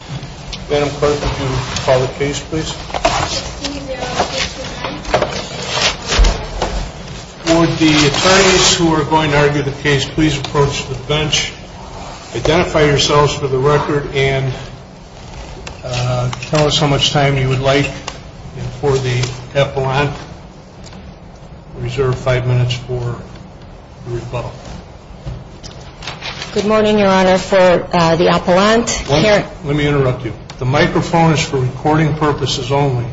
Would the attorneys who are going to argue the case please approach the bench, identify yourselves for the record, and tell us how much time you would like for the appellant. Reserve five minutes for the rebuttal. Good morning, Your Honor. For the appellant, Karen Let me interrupt you. The microphone is for recording purposes only.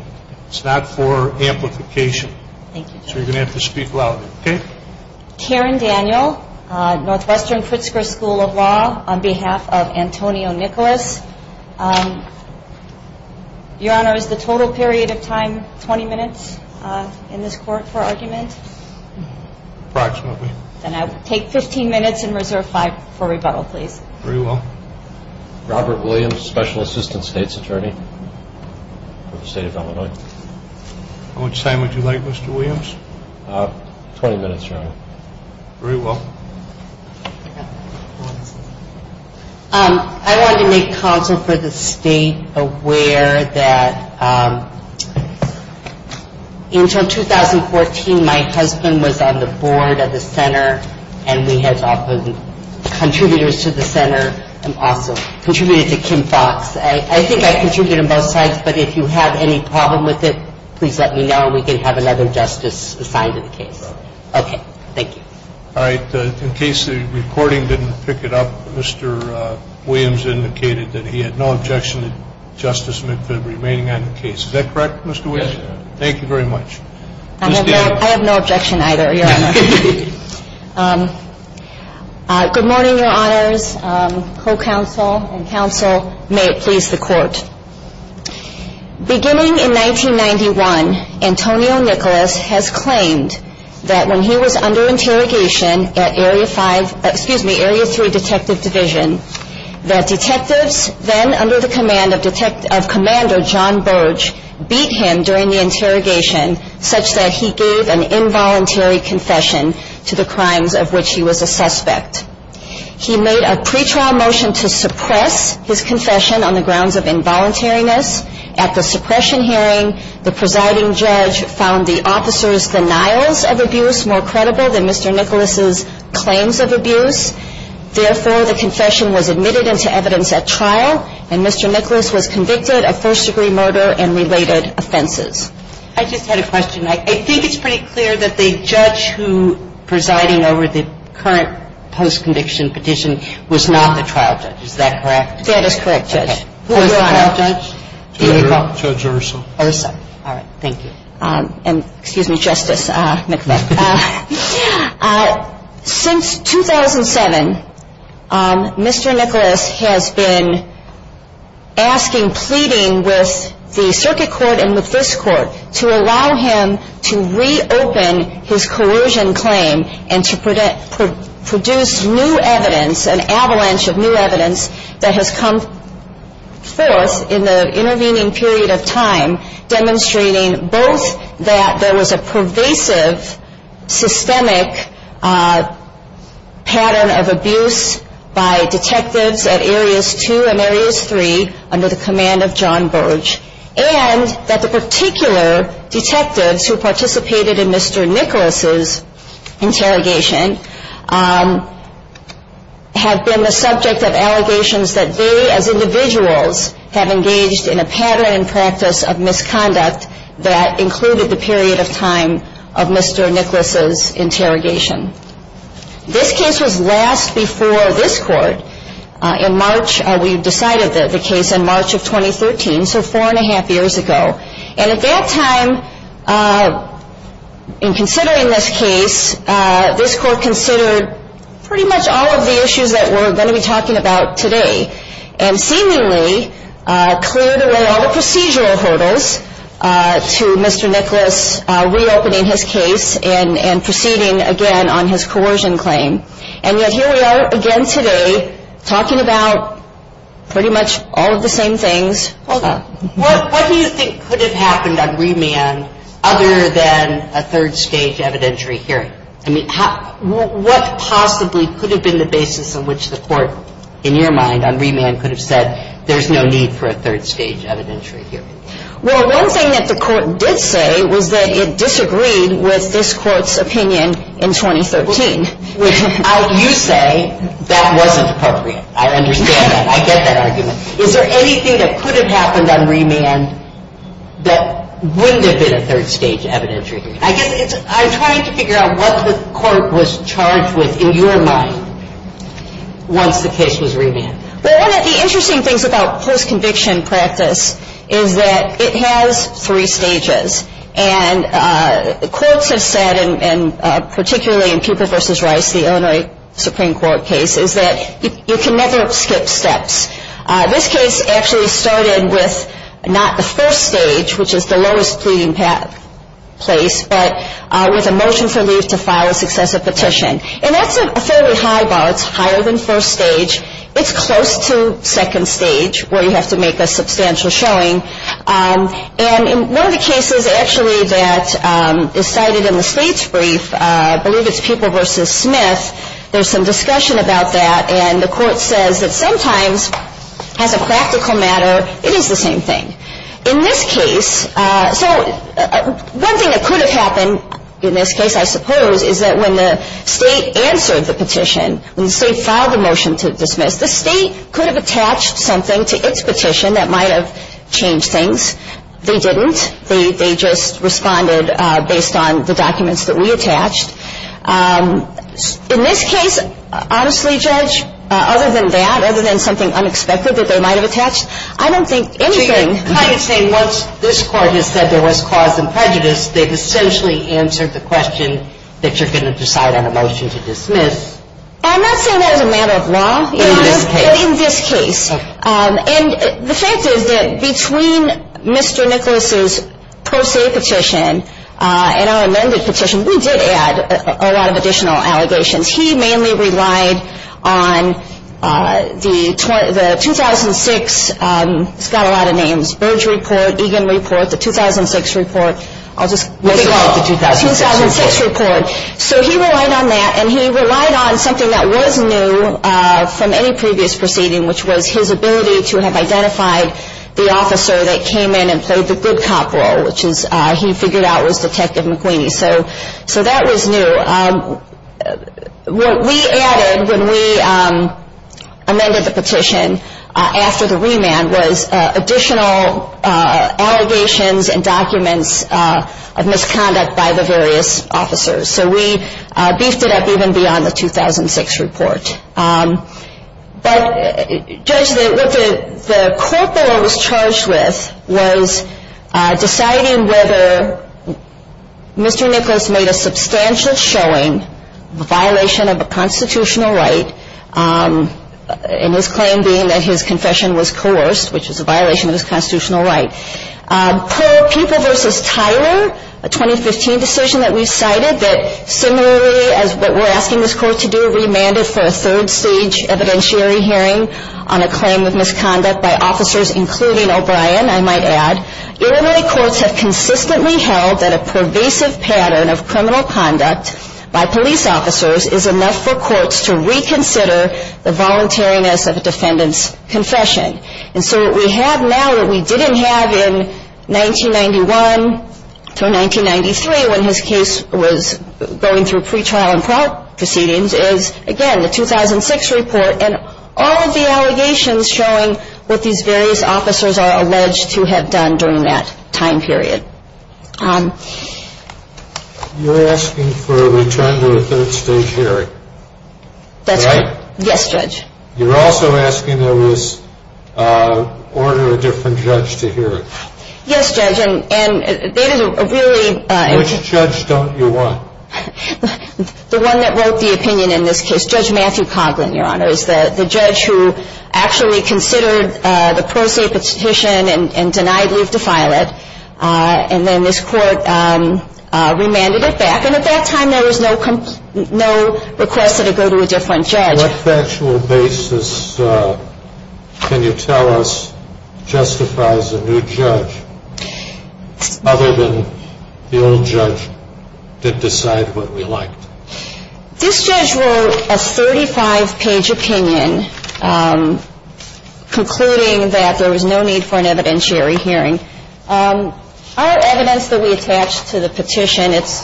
It's not for amplification. Thank you, Judge. So you're going to have to speak louder. Okay? Karen Daniel, Northwestern Pritzker School of Law, on behalf of Antonio Nicholas. Your Honor, is the total period of time 20 minutes in this court for argument? Approximately. Then I will take 15 minutes and reserve five for rebuttal, please. Very well. Robert Williams, Special Assistant State's Attorney for the State of Illinois. How much time would you like, Mr. Williams? 20 minutes, Your Honor. Very well. I wanted to make counsel for the state aware that until 2014, my husband was on the board of the center and we had often contributors to the center and also contributed to Kim Fox. I think I contributed on both sides, but if you have any problem with it, please let me know and we can have another justice assigned to the case. Okay. Thank you. All right. In case the recording didn't pick it up, Mr. Williams indicated that he had no objection to Justice McPhilip remaining on the case. Is that correct, Mr. Williams? Yes, Your Honor. Thank you very much. I have no objection either, Your Honor. Good morning, Your Honors, co-counsel and counsel. May it please the Court. Beginning in 1991, Antonio Nicholas has claimed that when he was under interrogation at Area 5, excuse me, Area 3 Detective Division, that detectives then under the command of Commander John Burge beat him during the interrogation such that he gave an involuntary confession to the crimes of which he was a suspect. He made a pretrial motion to suppress his confession on the grounds of involuntariness. At the suppression hearing, the presiding judge found the officer's denials of abuse more credible than Mr. Nicholas's claims of abuse. Therefore, the confession was admitted into evidence at trial and Mr. Nicholas was convicted of first-degree murder and related offenses. I just had a question. I think it's pretty clear that the judge who presiding over the current post-conviction petition was not the trial judge. Is that correct? That is correct, Judge. Who was the trial judge? Judge Urso. Urso. All right. Thank you. And excuse me, Justice McPhilip. Since 2007, Mr. Nicholas has been asking, pleading with the circuit court and with this court to allow him to reopen his coercion claim and to produce new evidence, an avalanche of new evidence that has come forth in the intervening period of time demonstrating both that there was a pervasive systemic pattern of abuse by detectives at Areas 2 and Areas 3 under the command of John Burge and that the particular detectives who participated in Mr. Nicholas's interrogation have been the subject of allegations that they as individuals have engaged in a pattern and practice of misconduct that included the period of time of Mr. Nicholas's interrogation. This case was last before this court in March. We decided the case in March of 2013, so four and a half years ago. And at that time, in considering this case, this court considered pretty much all of the issues that we're going to be talking about today and seemingly cleared away all the procedural hurdles to Mr. Nicholas reopening his case and proceeding again on his coercion claim. And yet here we are again today talking about pretty much all of the same things. I mean, let's be honest, Mr. Kiss. Why don't you do a bit more of a presentation of what you found, and then I will give back the opportunity for you to reflate it. What do you think could have happened unremanded other than a thirdstage evidentiary here? I mean, what possibly could have been the basis on which the Court, in your mind, unremanded, could have said there's no need for a thirdstage evidentiary here? Well, one thing that the Court did say was that it disagreed with this Court's opinion in 2013. Which, you say, that wasn't appropriate. I understand that. I get that argument. Is there anything that could have happened unremanded that wouldn't have been a thirdstage evidentiary here? I guess I'm trying to figure out what the Court was charged with, in your mind, once the case was remanded. Well, one of the interesting things about first conviction practice is that it has three stages. And courts have said, and particularly in Cooper v. Rice, the Illinois Supreme Court case, is that you can never skip steps. This case actually started with not the first stage, which is the lowest pleading place, but with a motion for leave to file a successive petition. And that's a fairly high bar. It's higher than first stage. It's close to second stage, where you have to make a substantial showing. And in one of the cases, actually, that is cited in the Slate's brief, I believe it's People v. Smith, there's some discussion about that, and the Court says that sometimes, as a practical matter, it is the same thing. In this case, so one thing that could have happened in this case, I suppose, is that when the State answered the petition, when the State filed the motion to dismiss, the State could have attached something to its petition that might have changed things. They didn't. They just responded based on the documents that we attached. In this case, honestly, Judge, other than that, other than something unexpected that they might have attached, I don't think anything — So you're kind of saying once this Court has said there was cause and prejudice, they've essentially answered the question that you're going to decide on a motion to dismiss? I'm not saying that as a matter of law. In this case? In this case. Okay. And the fact is that between Mr. Nicholas's per se petition and our amended petition, we did add a lot of additional allegations. He mainly relied on the 2006 — he's got a lot of names — Burge report, Egan report, the 2006 report. I'll just — What about the 2006 report? The 2006 report. So he relied on that, and he relied on something that was new from any previous proceeding, which was his ability to have identified the officer that came in and played the good cop role, which he figured out was Detective McQueen. So that was new. What we added when we amended the petition after the remand was additional allegations and documents of misconduct by the various officers. So we beefed it up even beyond the 2006 report. But, Judge, what the court board was charged with was deciding whether Mr. Nicholas made a substantial showing, a violation of a constitutional right, and his claim being that his confession was coerced, which was a violation of his constitutional right. Per People v. Tyler, a 2015 decision that we cited, that similarly as what we're asking this court to do, remanded for a third-stage evidentiary hearing on a claim of misconduct by officers including O'Brien, I might add, Illinois courts have consistently held that a pervasive pattern of criminal conduct by police officers is enough for courts to reconsider the voluntariness of a defendant's confession. And so what we have now that we didn't have in 1991 through 1993 when his case was going through pretrial and trial proceedings is, again, the 2006 report and all of the allegations showing what these various officers are alleged to have done during that time period. You're asking for a return to a third-stage hearing, correct? That's right. Yes, Judge. You're also asking there was order a different judge to hear it. Yes, Judge, and they didn't really – Which judge don't you want? The one that wrote the opinion in this case, Judge Matthew Coughlin, Your Honor, is the judge who actually considered the pro se petition and denied leave to file it. And then this court remanded it back. And at that time there was no request that it go to a different judge. On what factual basis can you tell us justifies a new judge other than the old judge did decide what we liked? This judge wrote a 35-page opinion concluding that there was no need for an evidentiary hearing. Our evidence that we attached to the petition, it's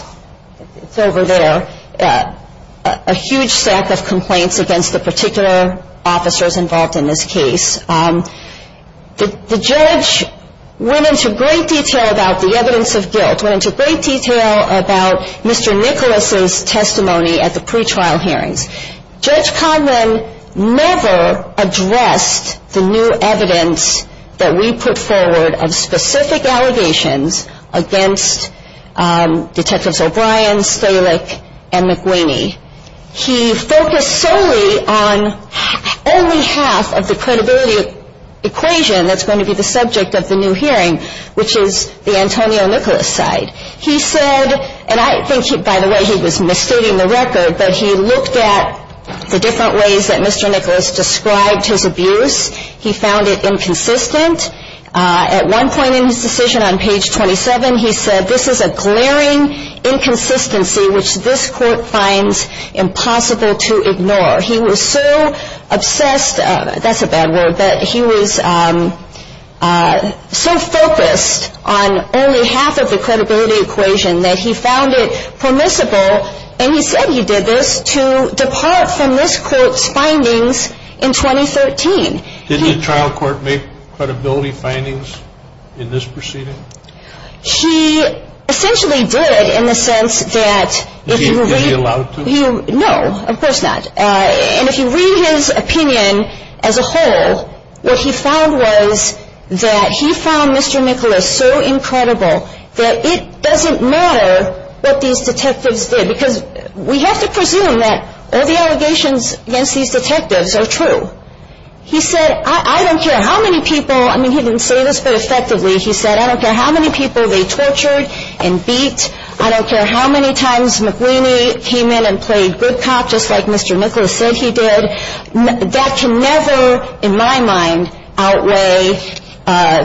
over there, a huge stack of complaints against the particular officers involved in this case. The judge went into great detail about the evidence of guilt, went into great detail about Mr. Nicholas' testimony at the pretrial hearings. Judge Coughlin never addressed the new evidence that we put forward of specific allegations against Detectives O'Brien, Stalick, and McWaney. He focused solely on only half of the credibility equation that's going to be the subject of the new hearing, which is the Antonio Nicholas side. He said, and I think, by the way, he was misstating the record, but he looked at the different ways that Mr. Nicholas described his abuse. He found it inconsistent. At one point in his decision on page 27, he said, this is a glaring inconsistency which this court finds impossible to ignore. He was so obsessed, that's a bad word, that he was so focused on only half of the credibility equation that he found it permissible, and he said he did this, to depart from this court's findings in 2013. Did the trial court make credibility findings in this proceeding? He essentially did, in the sense that if you read his opinion as a whole, what he found was that he found Mr. Nicholas so incredible that it doesn't matter what these detectives did, because we have to presume that all the allegations against these detectives are true. He said, I don't care how many people, I mean, he didn't say this, but effectively, he said, I don't care how many people they tortured and beat. I don't care how many times McWhinney came in and played good cop, just like Mr. Nicholas said he did. That can never, in my mind, outweigh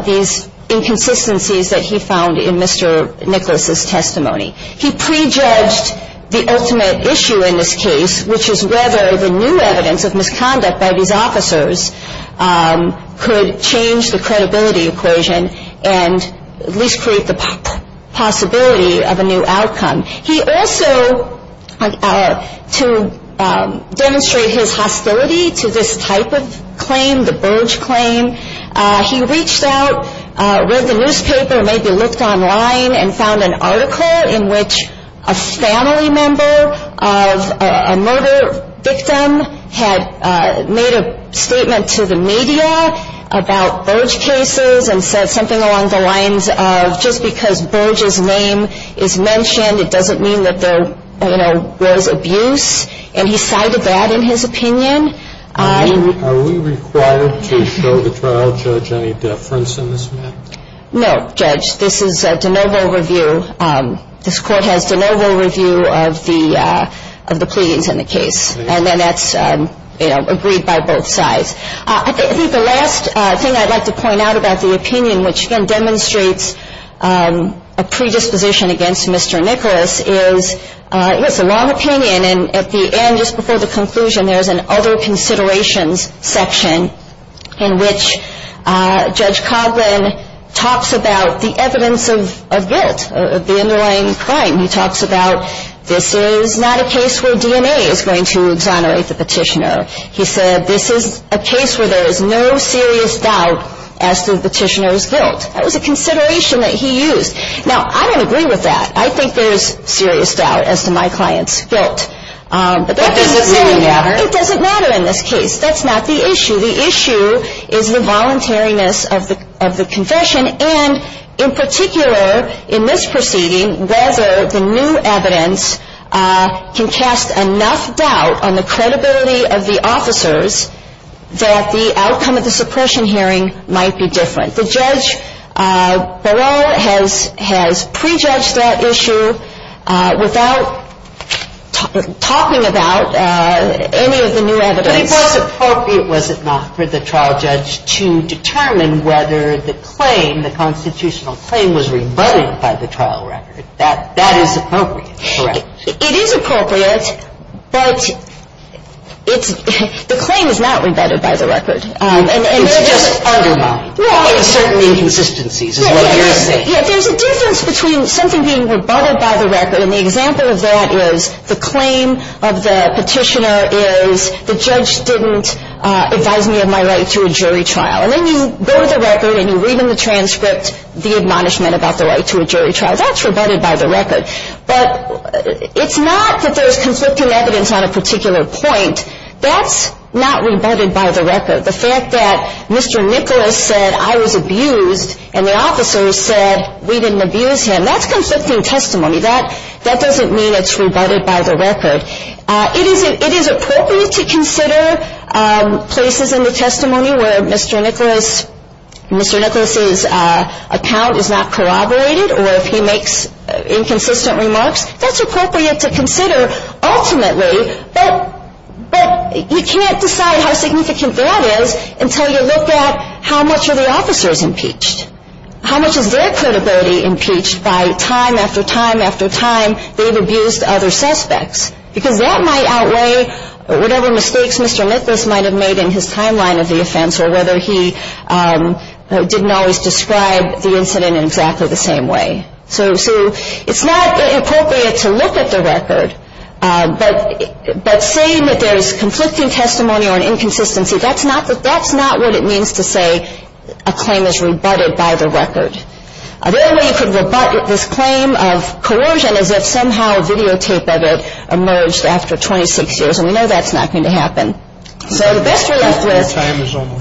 these inconsistencies that he found in Mr. Nicholas's testimony. He prejudged the ultimate issue in this case, which is whether the new evidence of misconduct by these officers could change the credibility equation and at least create the possibility of a new outcome. He also, to demonstrate his hostility to this type of claim, the Burge claim, he reached out, read the newspaper, maybe looked online, and found an article in which a family member of a murder victim had made a statement to the media about Burge cases and said something along the lines of, just because Burge's name is mentioned, it doesn't mean that there was abuse, and he cited that in his opinion. Are we required to show the trial judge any deference in this matter? No, Judge. This is a de novo review. This Court has de novo review of the pleadings in the case, and then that's agreed by both sides. I think the last thing I'd like to point out about the opinion, which again demonstrates a predisposition against Mr. Nicholas, is it's a long opinion, and at the end, just before the conclusion, there's an other considerations section in which Judge Coughlin talks about the evidence of guilt, of the underlying crime. He talks about this is not a case where DNA is going to exonerate the petitioner. He said this is a case where there is no serious doubt as to the petitioner's guilt. That was a consideration that he used. Now, I don't agree with that. I think there's serious doubt as to my client's guilt. But does it really matter? It doesn't matter in this case. That's not the issue. The issue is the voluntariness of the confession, and in particular, in this proceeding, whether the new evidence can cast enough doubt on the credibility of the officers that the outcome of the suppression hearing might be different. The judge below has prejudged that issue without talking about any of the new evidence. But it was appropriate, was it not, for the trial judge to determine whether the claim, the constitutional claim was rebutted by the trial record. That is appropriate, correct? It is appropriate, but the claim is not rebutted by the record. It's just undermined. Uncertain inconsistencies is what you're saying. There's a difference between something being rebutted by the record, and the example of that is the claim of the petitioner is the judge didn't advise me of my right to a jury trial. And then you go to the record and you read in the transcript the admonishment about the right to a jury trial. That's rebutted by the record. But it's not that there's conflicting evidence on a particular point. That's not rebutted by the record. The fact that Mr. Nicholas said I was abused and the officer said we didn't abuse him, that's conflicting testimony. That doesn't mean it's rebutted by the record. It is appropriate to consider places in the testimony where Mr. Nicholas' account is not corroborated or if he makes inconsistent remarks. That's appropriate to consider ultimately, but you can't decide how significant that is until you look at how much are the officers impeached? How much is their credibility impeached by time after time after time they've abused other suspects? Because that might outweigh whatever mistakes Mr. Nicholas might have made in his timeline of the offense or whether he didn't always describe the incident in exactly the same way. So it's not inappropriate to look at the record, but saying that there's conflicting testimony or an inconsistency, that's not what it means to say a claim is rebutted by the record. The only way you could rebut this claim of coercion is if somehow a videotape of it emerged after 26 years, and we know that's not going to happen. So the best we're left with,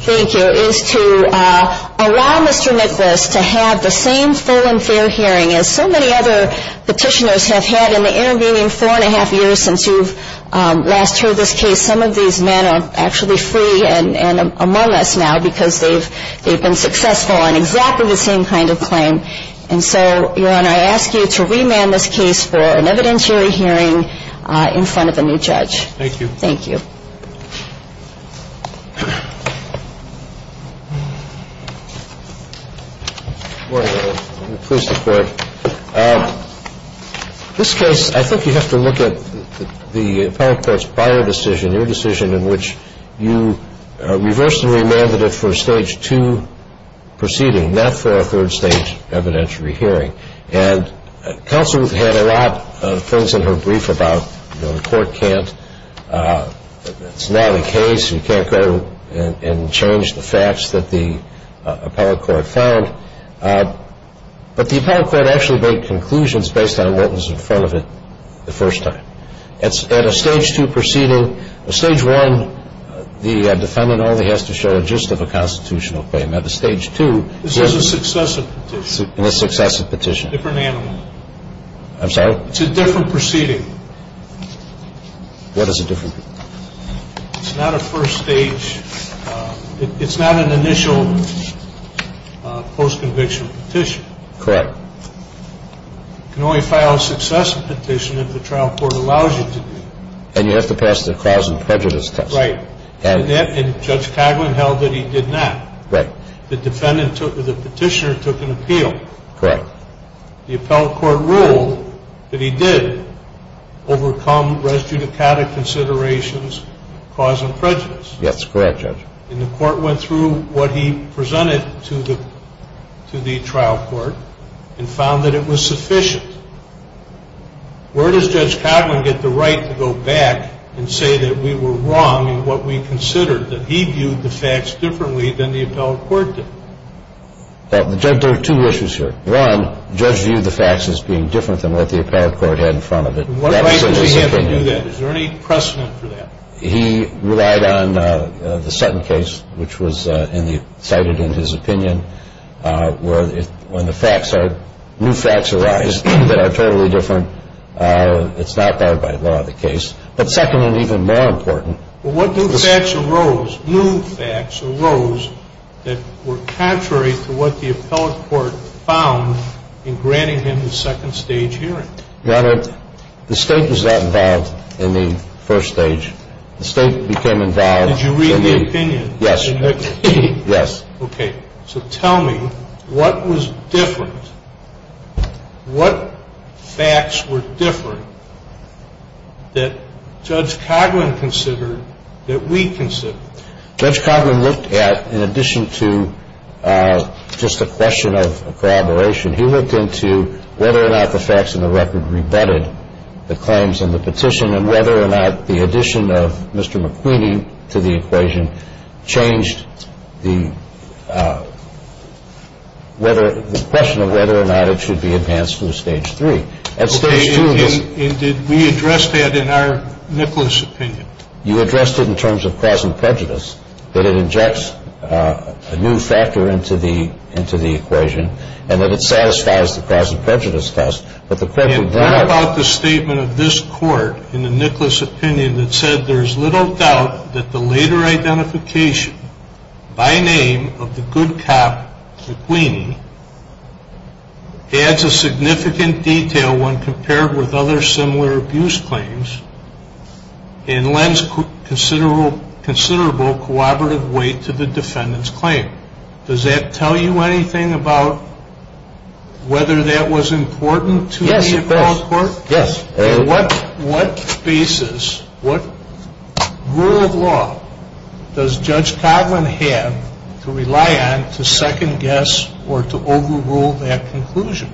thank you, is to allow Mr. Nicholas to have the same full and fair hearing as so many other petitioners have had in the intervening four and a half years since you've last heard this case. Some of these men are actually free and among us now because they've been successful on exactly the same kind of claim. And so, Your Honor, I ask you to remand this case for an evidentiary hearing in front of a new judge. Thank you. Thank you. Your Honor, please support. This case, I think you have to look at the appellate court's prior decision, your decision in which you reversed and remanded it for a stage two proceeding, not for a third stage evidentiary hearing. And counsel had a lot of things in her brief about, you know, the court can't, it's not a case, you can't go and change the facts that the appellate court found. But the appellate court actually made conclusions based on what was in front of it the first time. At a stage two proceeding, a stage one, the defendant only has to show a gist of a constitutional claim. Now, the stage two. This is a successive petition. A successive petition. Different animal. I'm sorry? It's a different proceeding. What is a different? It's not a first stage, it's not an initial post-conviction petition. Correct. You can only file a successive petition if the trial court allows you to do it. And you have to pass the cause and prejudice test. Right. And Judge Coghlan held that he did not. Right. The petitioner took an appeal. Correct. The appellate court ruled that he did overcome res judicata considerations, cause and prejudice. Yes, correct, Judge. And the court went through what he presented to the trial court and found that it was sufficient. Where does Judge Coghlan get the right to go back and say that we were wrong that he viewed the facts differently than the appellate court did? Judge, there are two issues here. One, Judge viewed the facts as being different than what the appellate court had in front of it. What right does he have to do that? Is there any precedent for that? He relied on the Sutton case, which was cited in his opinion, where when the facts are, new facts arise that are totally different, it's not by law the case. But second and even more important. What new facts arose, new facts arose that were contrary to what the appellate court found in granting him the second stage hearing? Your Honor, the state was not involved in the first stage. The state became involved in the... Did you read the opinion? Yes. Yes. Okay. So tell me, what was different? What facts were different that Judge Coghlan considered that we considered? Judge Coghlan looked at, in addition to just a question of corroboration, he looked into whether or not the facts in the record rebutted the claims in the petition and whether or not the addition of Mr. McQueen to the equation changed the question of whether or not it should be advanced to the stage three. And stage two was... And did we address that in our Nicholas opinion? You addressed it in terms of cause and prejudice, that it injects a new factor into the equation and that it satisfies the cause and prejudice test. And what about the statement of this court in the Nicholas opinion that said, there is little doubt that the later identification by name of the good cop McQueen adds a significant detail when compared with other similar abuse claims and lends considerable corroborative weight to the defendant's claim? Does that tell you anything about whether that was important to the appellate court? Yes, it does. Yes. On what basis, what rule of law does Judge Coghlan have to rely on to second guess or to overrule that conclusion?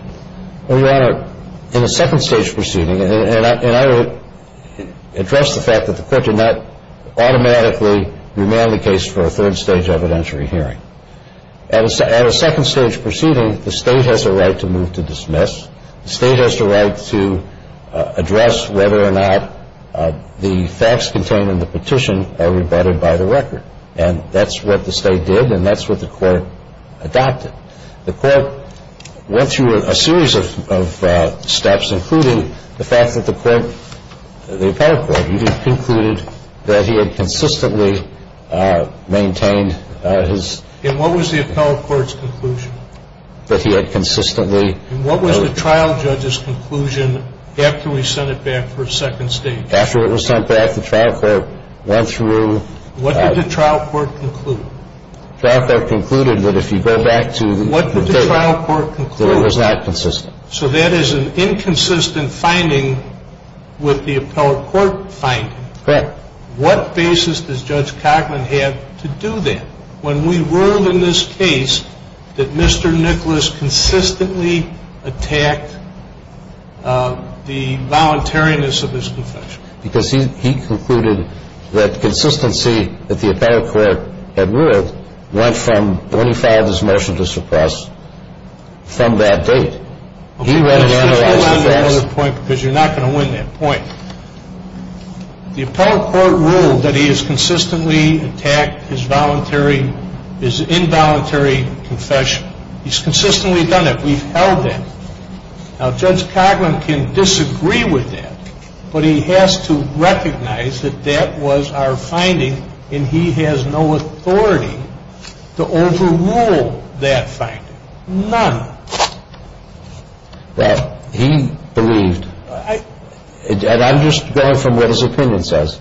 Well, Your Honor, in a second stage proceeding, and I would address the fact that the court did not automatically remand the case for a third stage evidentiary hearing. At a second stage proceeding, the State has a right to move to dismiss. The State has the right to address whether or not the facts contained in the petition are rebutted by the record. And that's what the State did and that's what the court adopted. The court went through a series of steps, including the fact that the court, the appellate court even concluded that he had consistently maintained his. And what was the appellate court's conclusion? That he had consistently. And what was the trial judge's conclusion after we sent it back for a second stage? After it was sent back, the trial court went through. What did the trial court conclude? The trial court concluded that if you go back to. What did the trial court conclude? That it was not consistent. So that is an inconsistent finding with the appellate court finding. Correct. What basis does Judge Cochran have to do that? When we ruled in this case that Mr. Nicholas consistently attacked the voluntariness of his confession. Because he concluded that consistency that the appellate court had ruled went from when he filed his motion to suppress from that date. Do you recognize that? Because you're not going to win that point. The appellate court ruled that he has consistently attacked his involuntary confession. He's consistently done that. We've held that. Now Judge Cochran can disagree with that. But he has to recognize that that was our finding. And he has no authority to overrule that finding. None. Well, he believed, and I'm just going from what his opinion says,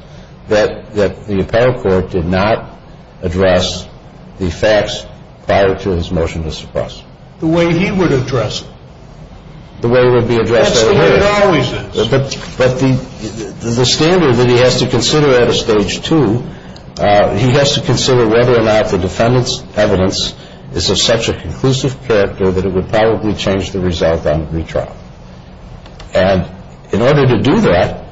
that the appellate court did not address the facts prior to his motion to suppress. The way he would address it. The way it would be addressed otherwise. That's the way it always is. But the standard that he has to consider at a stage two, he has to consider whether or not the defendant's evidence is of such a conclusive character that it would probably change the result on the retrial. And in order to do that,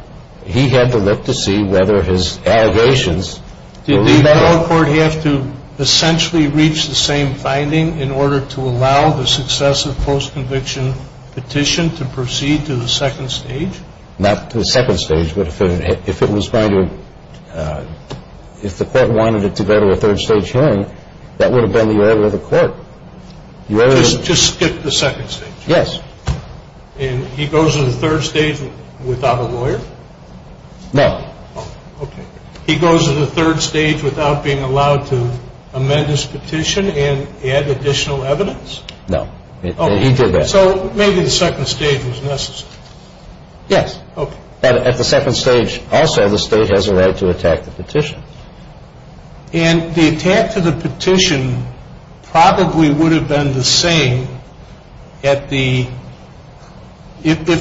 he had to look to see whether his allegations would lead that way. Did the appellate court have to essentially reach the same finding in order to allow the successive postconviction petition to proceed to the second stage? Not to the second stage, but if the court wanted it to go to a third stage hearing, that would have been the order of the court. Just skip the second stage? Yes. And he goes to the third stage without a lawyer? No. Okay. He goes to the third stage without being allowed to amend his petition and add additional evidence? No. So maybe the second stage was necessary. Yes. But at the second stage also, the State has a right to attack the petition. And the attack to the petition probably would have been the same if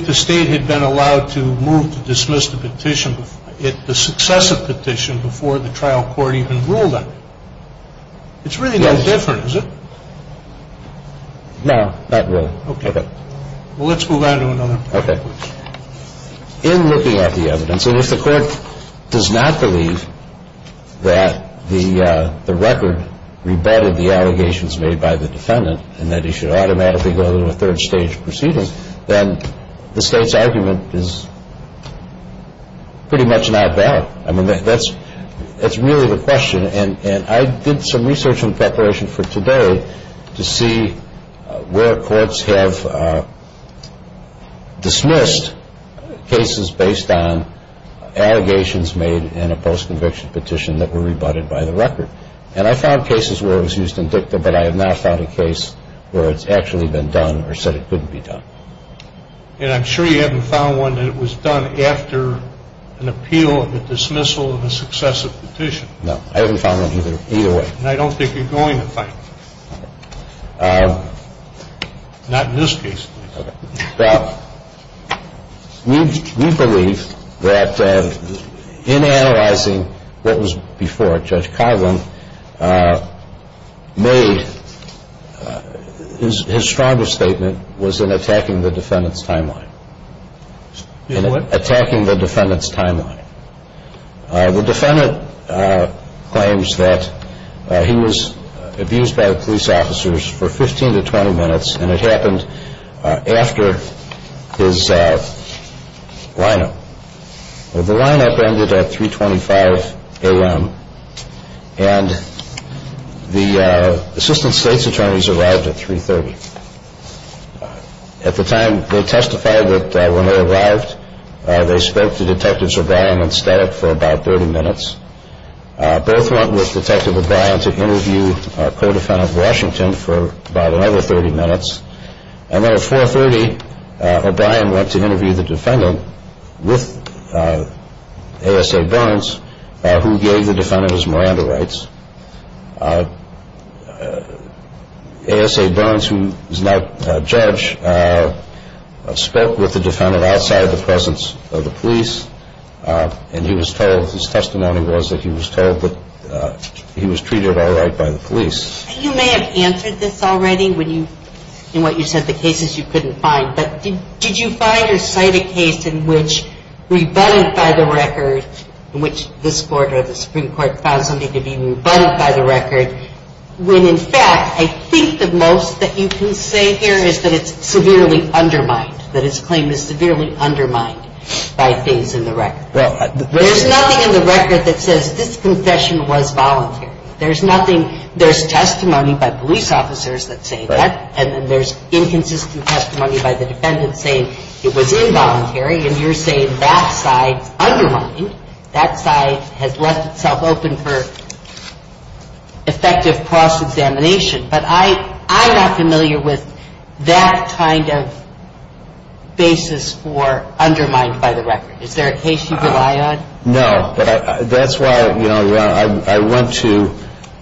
the State had been allowed to move to dismiss the petition, the successive petition, before the trial court even ruled on it. It's really no different, is it? No, not really. Okay. Well, let's move on to another point. Okay. In looking at the evidence, and if the court does not believe that the record rebutted the allegations made by the defendant and that he should automatically go to a third stage proceeding, then the State's argument is pretty much not valid. I mean, that's really the question. And I did some research in preparation for today to see where courts have dismissed cases based on allegations made in a post-conviction petition that were rebutted by the record. And I found cases where it was used in dicta, but I have not found a case where it's actually been done or said it couldn't be done. And I'm sure you haven't found one that it was done after an appeal, a dismissal, and a successive petition. No. I haven't found one either way. And I don't think you're going to find one. Okay. Not in this case, please. Okay. Well, we believe that in analyzing what was before it, Judge Coghlan made his strongest statement was in attacking the defendant's timeline. In what? In attacking the defendant's timeline. The defendant claims that he was abused by police officers for 15 to 20 minutes, and it happened after his lineup. The lineup ended at 3.25 a.m., and the assistant State's attorneys arrived at 3.30. At the time, they testified that when they arrived, they spoke to Detectives O'Brien and Staddock for about 30 minutes. Both went with Detective O'Brien to interview Co-Defendant Washington for about another 30 minutes. And then at 4.30, O'Brien went to interview the defendant with A.S.A. Burns, who gave the defendant his Miranda rights. A.S.A. Burns, who is now a judge, spoke with the defendant outside the presence of the police, and he was told his testimony was that he was told that he was treated all right by the police. You may have answered this already in what you said the cases you couldn't find, but did you find or cite a case in which, rebutted by the record, in which this Court or the Supreme Court found something to be rebutted by the record, when, in fact, I think the most that you can say here is that it's severely undermined, that his claim is severely undermined by things in the record? There's nothing in the record that says this confession was voluntary. There's nothing – there's testimony by police officers that say that, and then there's inconsistent testimony by the defendant saying it was involuntary, and you're saying that side's undermined. That side has left itself open for effective cross-examination. But I'm not familiar with that kind of basis for undermined by the record. Is there a case you rely on? No, but that's why I went to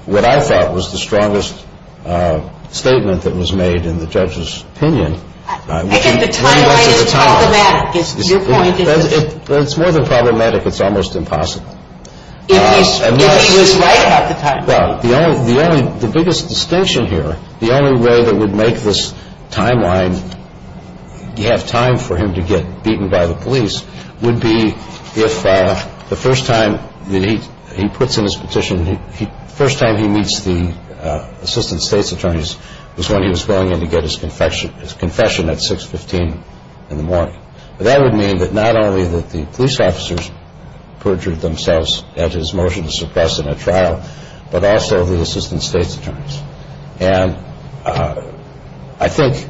what I thought was the strongest statement that was made in the judge's opinion. I think the timeline is problematic. It's more than problematic. It's almost impossible. If he's right about the timeline. Well, the only – the biggest distinction here, the only way that would make this timeline – have time for him to get beaten by the police would be if the first time that he – he puts in his petition, the first time he meets the assistant state's attorneys was when he was going in to get his confession at 6.15 in the morning. That would mean that not only that the police officers perjured themselves at his motion to suppress in a trial, but also the assistant state's attorneys. And I think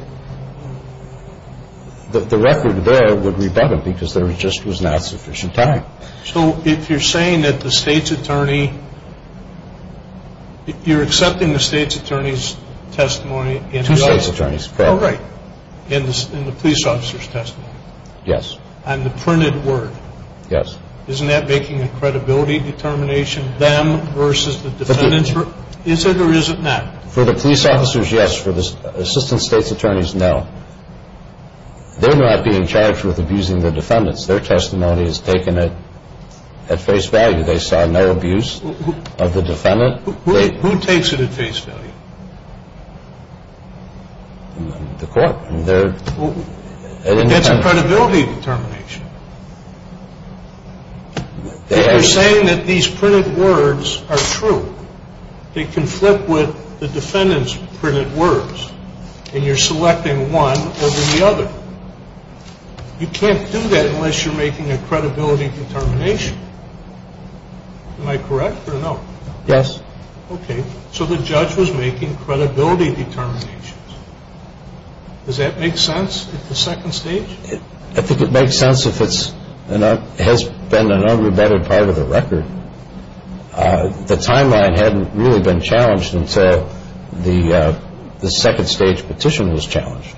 that the record there would rebut him because there just was not sufficient time. So if you're saying that the state's attorney – if you're accepting the state's attorney's testimony – Two state's attorneys. Oh, right. In the police officer's testimony. Yes. On the printed word. Yes. Isn't that making a credibility determination, them versus the defendants? Is it or is it not? For the police officers, yes. For the assistant state's attorneys, no. They're not being charged with abusing the defendants. Their testimony is taken at face value. They saw no abuse of the defendant. Who takes it at face value? The court. That's a credibility determination. If you're saying that these printed words are true, they conflict with the defendant's printed words, and you're selecting one over the other. You can't do that unless you're making a credibility determination. Am I correct or no? Yes. Okay. So the judge was making credibility determinations. Does that make sense at the second stage? I think it makes sense if it has been an unrebutted part of the record. The timeline hadn't really been challenged until the second stage petition was challenged.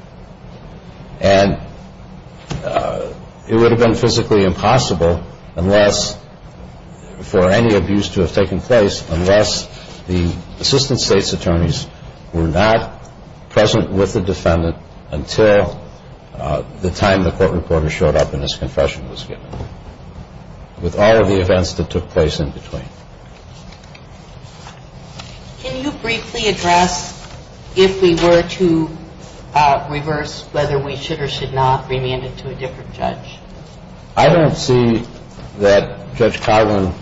And it would have been physically impossible for any abuse to have taken place unless the assistant state's attorneys were not present with the defendant until the time the court reporter showed up and his confession was given, with all of the events that took place in between. Can you briefly address if we were to reverse whether we should or should not remand it to a different judge? I don't see that Judge Carlin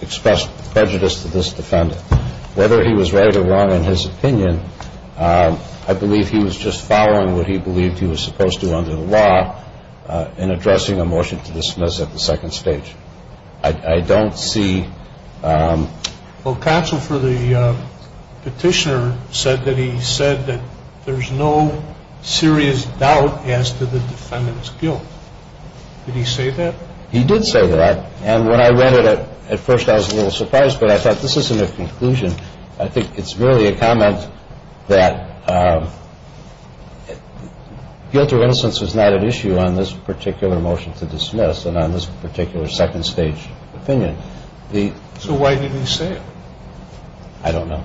expressed prejudice to this defendant. Whether he was right or wrong in his opinion, I believe he was just following what he believed he was supposed to under the law in addressing a motion to dismiss at the second stage. I don't see. Well, counsel for the petitioner said that he said that there's no serious doubt as to the defendant's guilt. Did he say that? He did say that. And when I read it at first I was a little surprised, but I thought this isn't a conclusion. I think it's merely a comment that guilt or innocence is not at issue on this particular motion to dismiss and on this particular second stage opinion. So why did he say it? I don't know.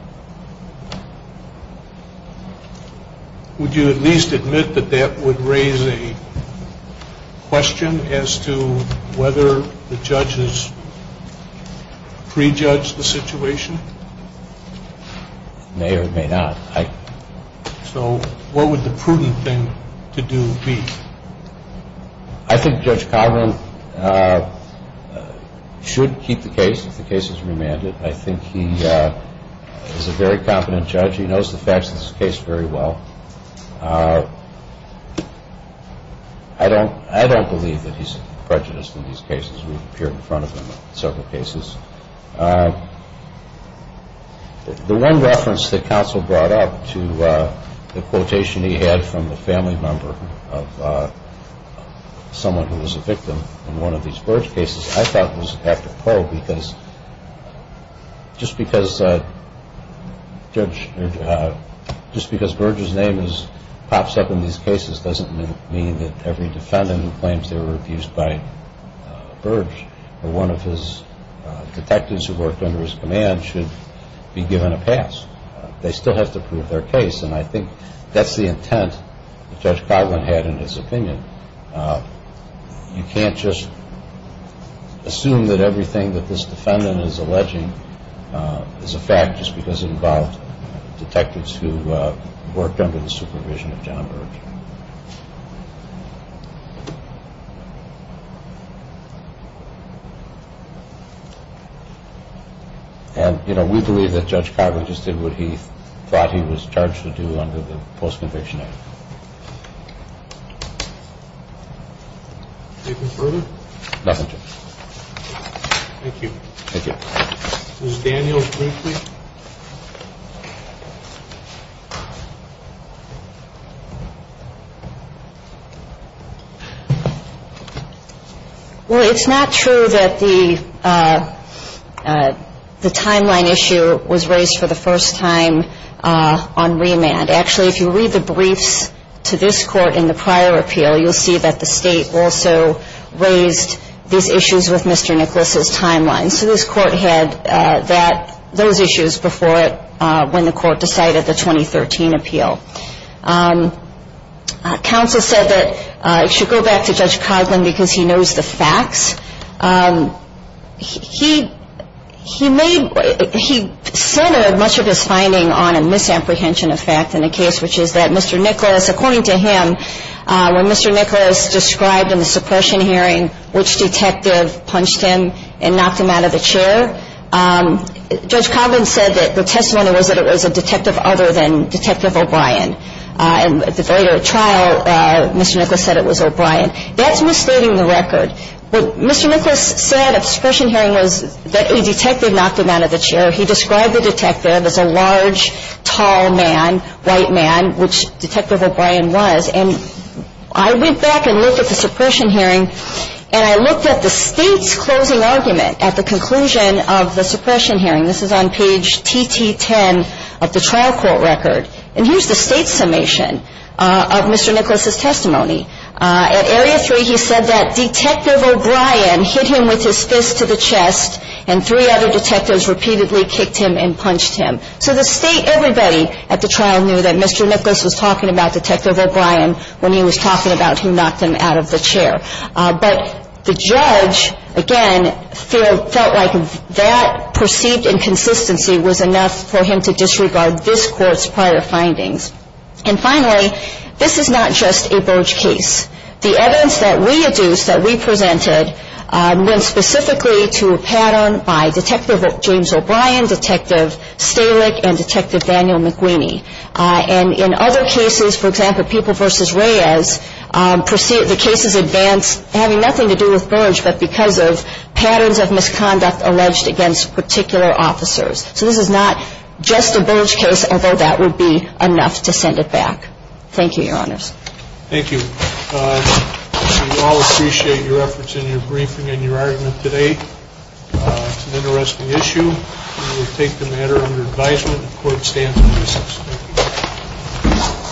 Would you at least admit that that would raise a question as to whether the judges prejudge the situation? May or may not. So what would the prudent thing to do be? I think Judge Carlin should keep the case if the case is remanded. I think he is a very competent judge. He knows the facts of this case very well. I don't believe that he's prejudiced in these cases. We've appeared in front of him in several cases. The one reference that counsel brought up to the quotation he had from the family member of someone who was a victim in one of these Burge cases I thought was a factor of pro because just because Burge's name pops up in these cases doesn't mean that every defendant who claims they were abused by Burge or one of his detectives who worked under his command should be given a pass. They still have to prove their case, and I think that's the intent that Judge Carlin had in his opinion. You can't just assume that everything that this defendant is alleging is a fact just because it involved detectives who worked under the supervision of John Burge. We believe that Judge Carlin just did what he thought he was charged to do under the Post-Conviction Act. Anything further? Nothing, Judge. Thank you. Thank you. Ms. Daniels, briefly. Well, it's not true that the timeline issue was raised for the first time on remand. Actually, if you read the briefs to this Court in the prior appeal, you'll see that the State also raised these issues with Mr. Nicholas's timeline. So this Court had those issues before when the Court decided the 2013 appeal. Counsel said that it should go back to Judge Carlin because he knows the facts. He centered much of his finding on a misapprehension of fact in the case, which is that Mr. Nicholas, according to him, when Mr. Nicholas described in the suppression hearing which detective punched him and knocked him out of the chair, Judge Carlin said that the testimony was that it was a detective other than Detective O'Brien. And at the later trial, Mr. Nicholas said it was O'Brien. That's misstating the record. What Mr. Nicholas said at the suppression hearing was that a detective knocked him out of the chair. He described the detective as a large, tall man, white man, which Detective O'Brien was. And I went back and looked at the suppression hearing, and I looked at the State's closing argument at the conclusion of the suppression hearing. This is on page TT10 of the trial court record. And here's the State's summation of Mr. Nicholas's testimony. At Area 3, he said that Detective O'Brien hit him with his fist to the chest, and three other detectives repeatedly kicked him and punched him. So the State, everybody at the trial knew that Mr. Nicholas was talking about Detective O'Brien when he was talking about who knocked him out of the chair. But the judge, again, felt like that perceived inconsistency was enough for him to disregard this court's prior findings. And finally, this is not just a Burge case. The evidence that we adduced, that we presented, went specifically to a pattern by Detective James O'Brien, Detective Stalick, and Detective Daniel McQueen. And in other cases, for example, People v. Reyes, the cases advanced having nothing to do with Burge, but because of patterns of misconduct alleged against particular officers. So this is not just a Burge case, although that would be enough to send it back. Thank you, Your Honors. Thank you. We all appreciate your efforts in your briefing and your argument today. It's an interesting issue. We will take the matter under advisement. The court stands by this. Thank you.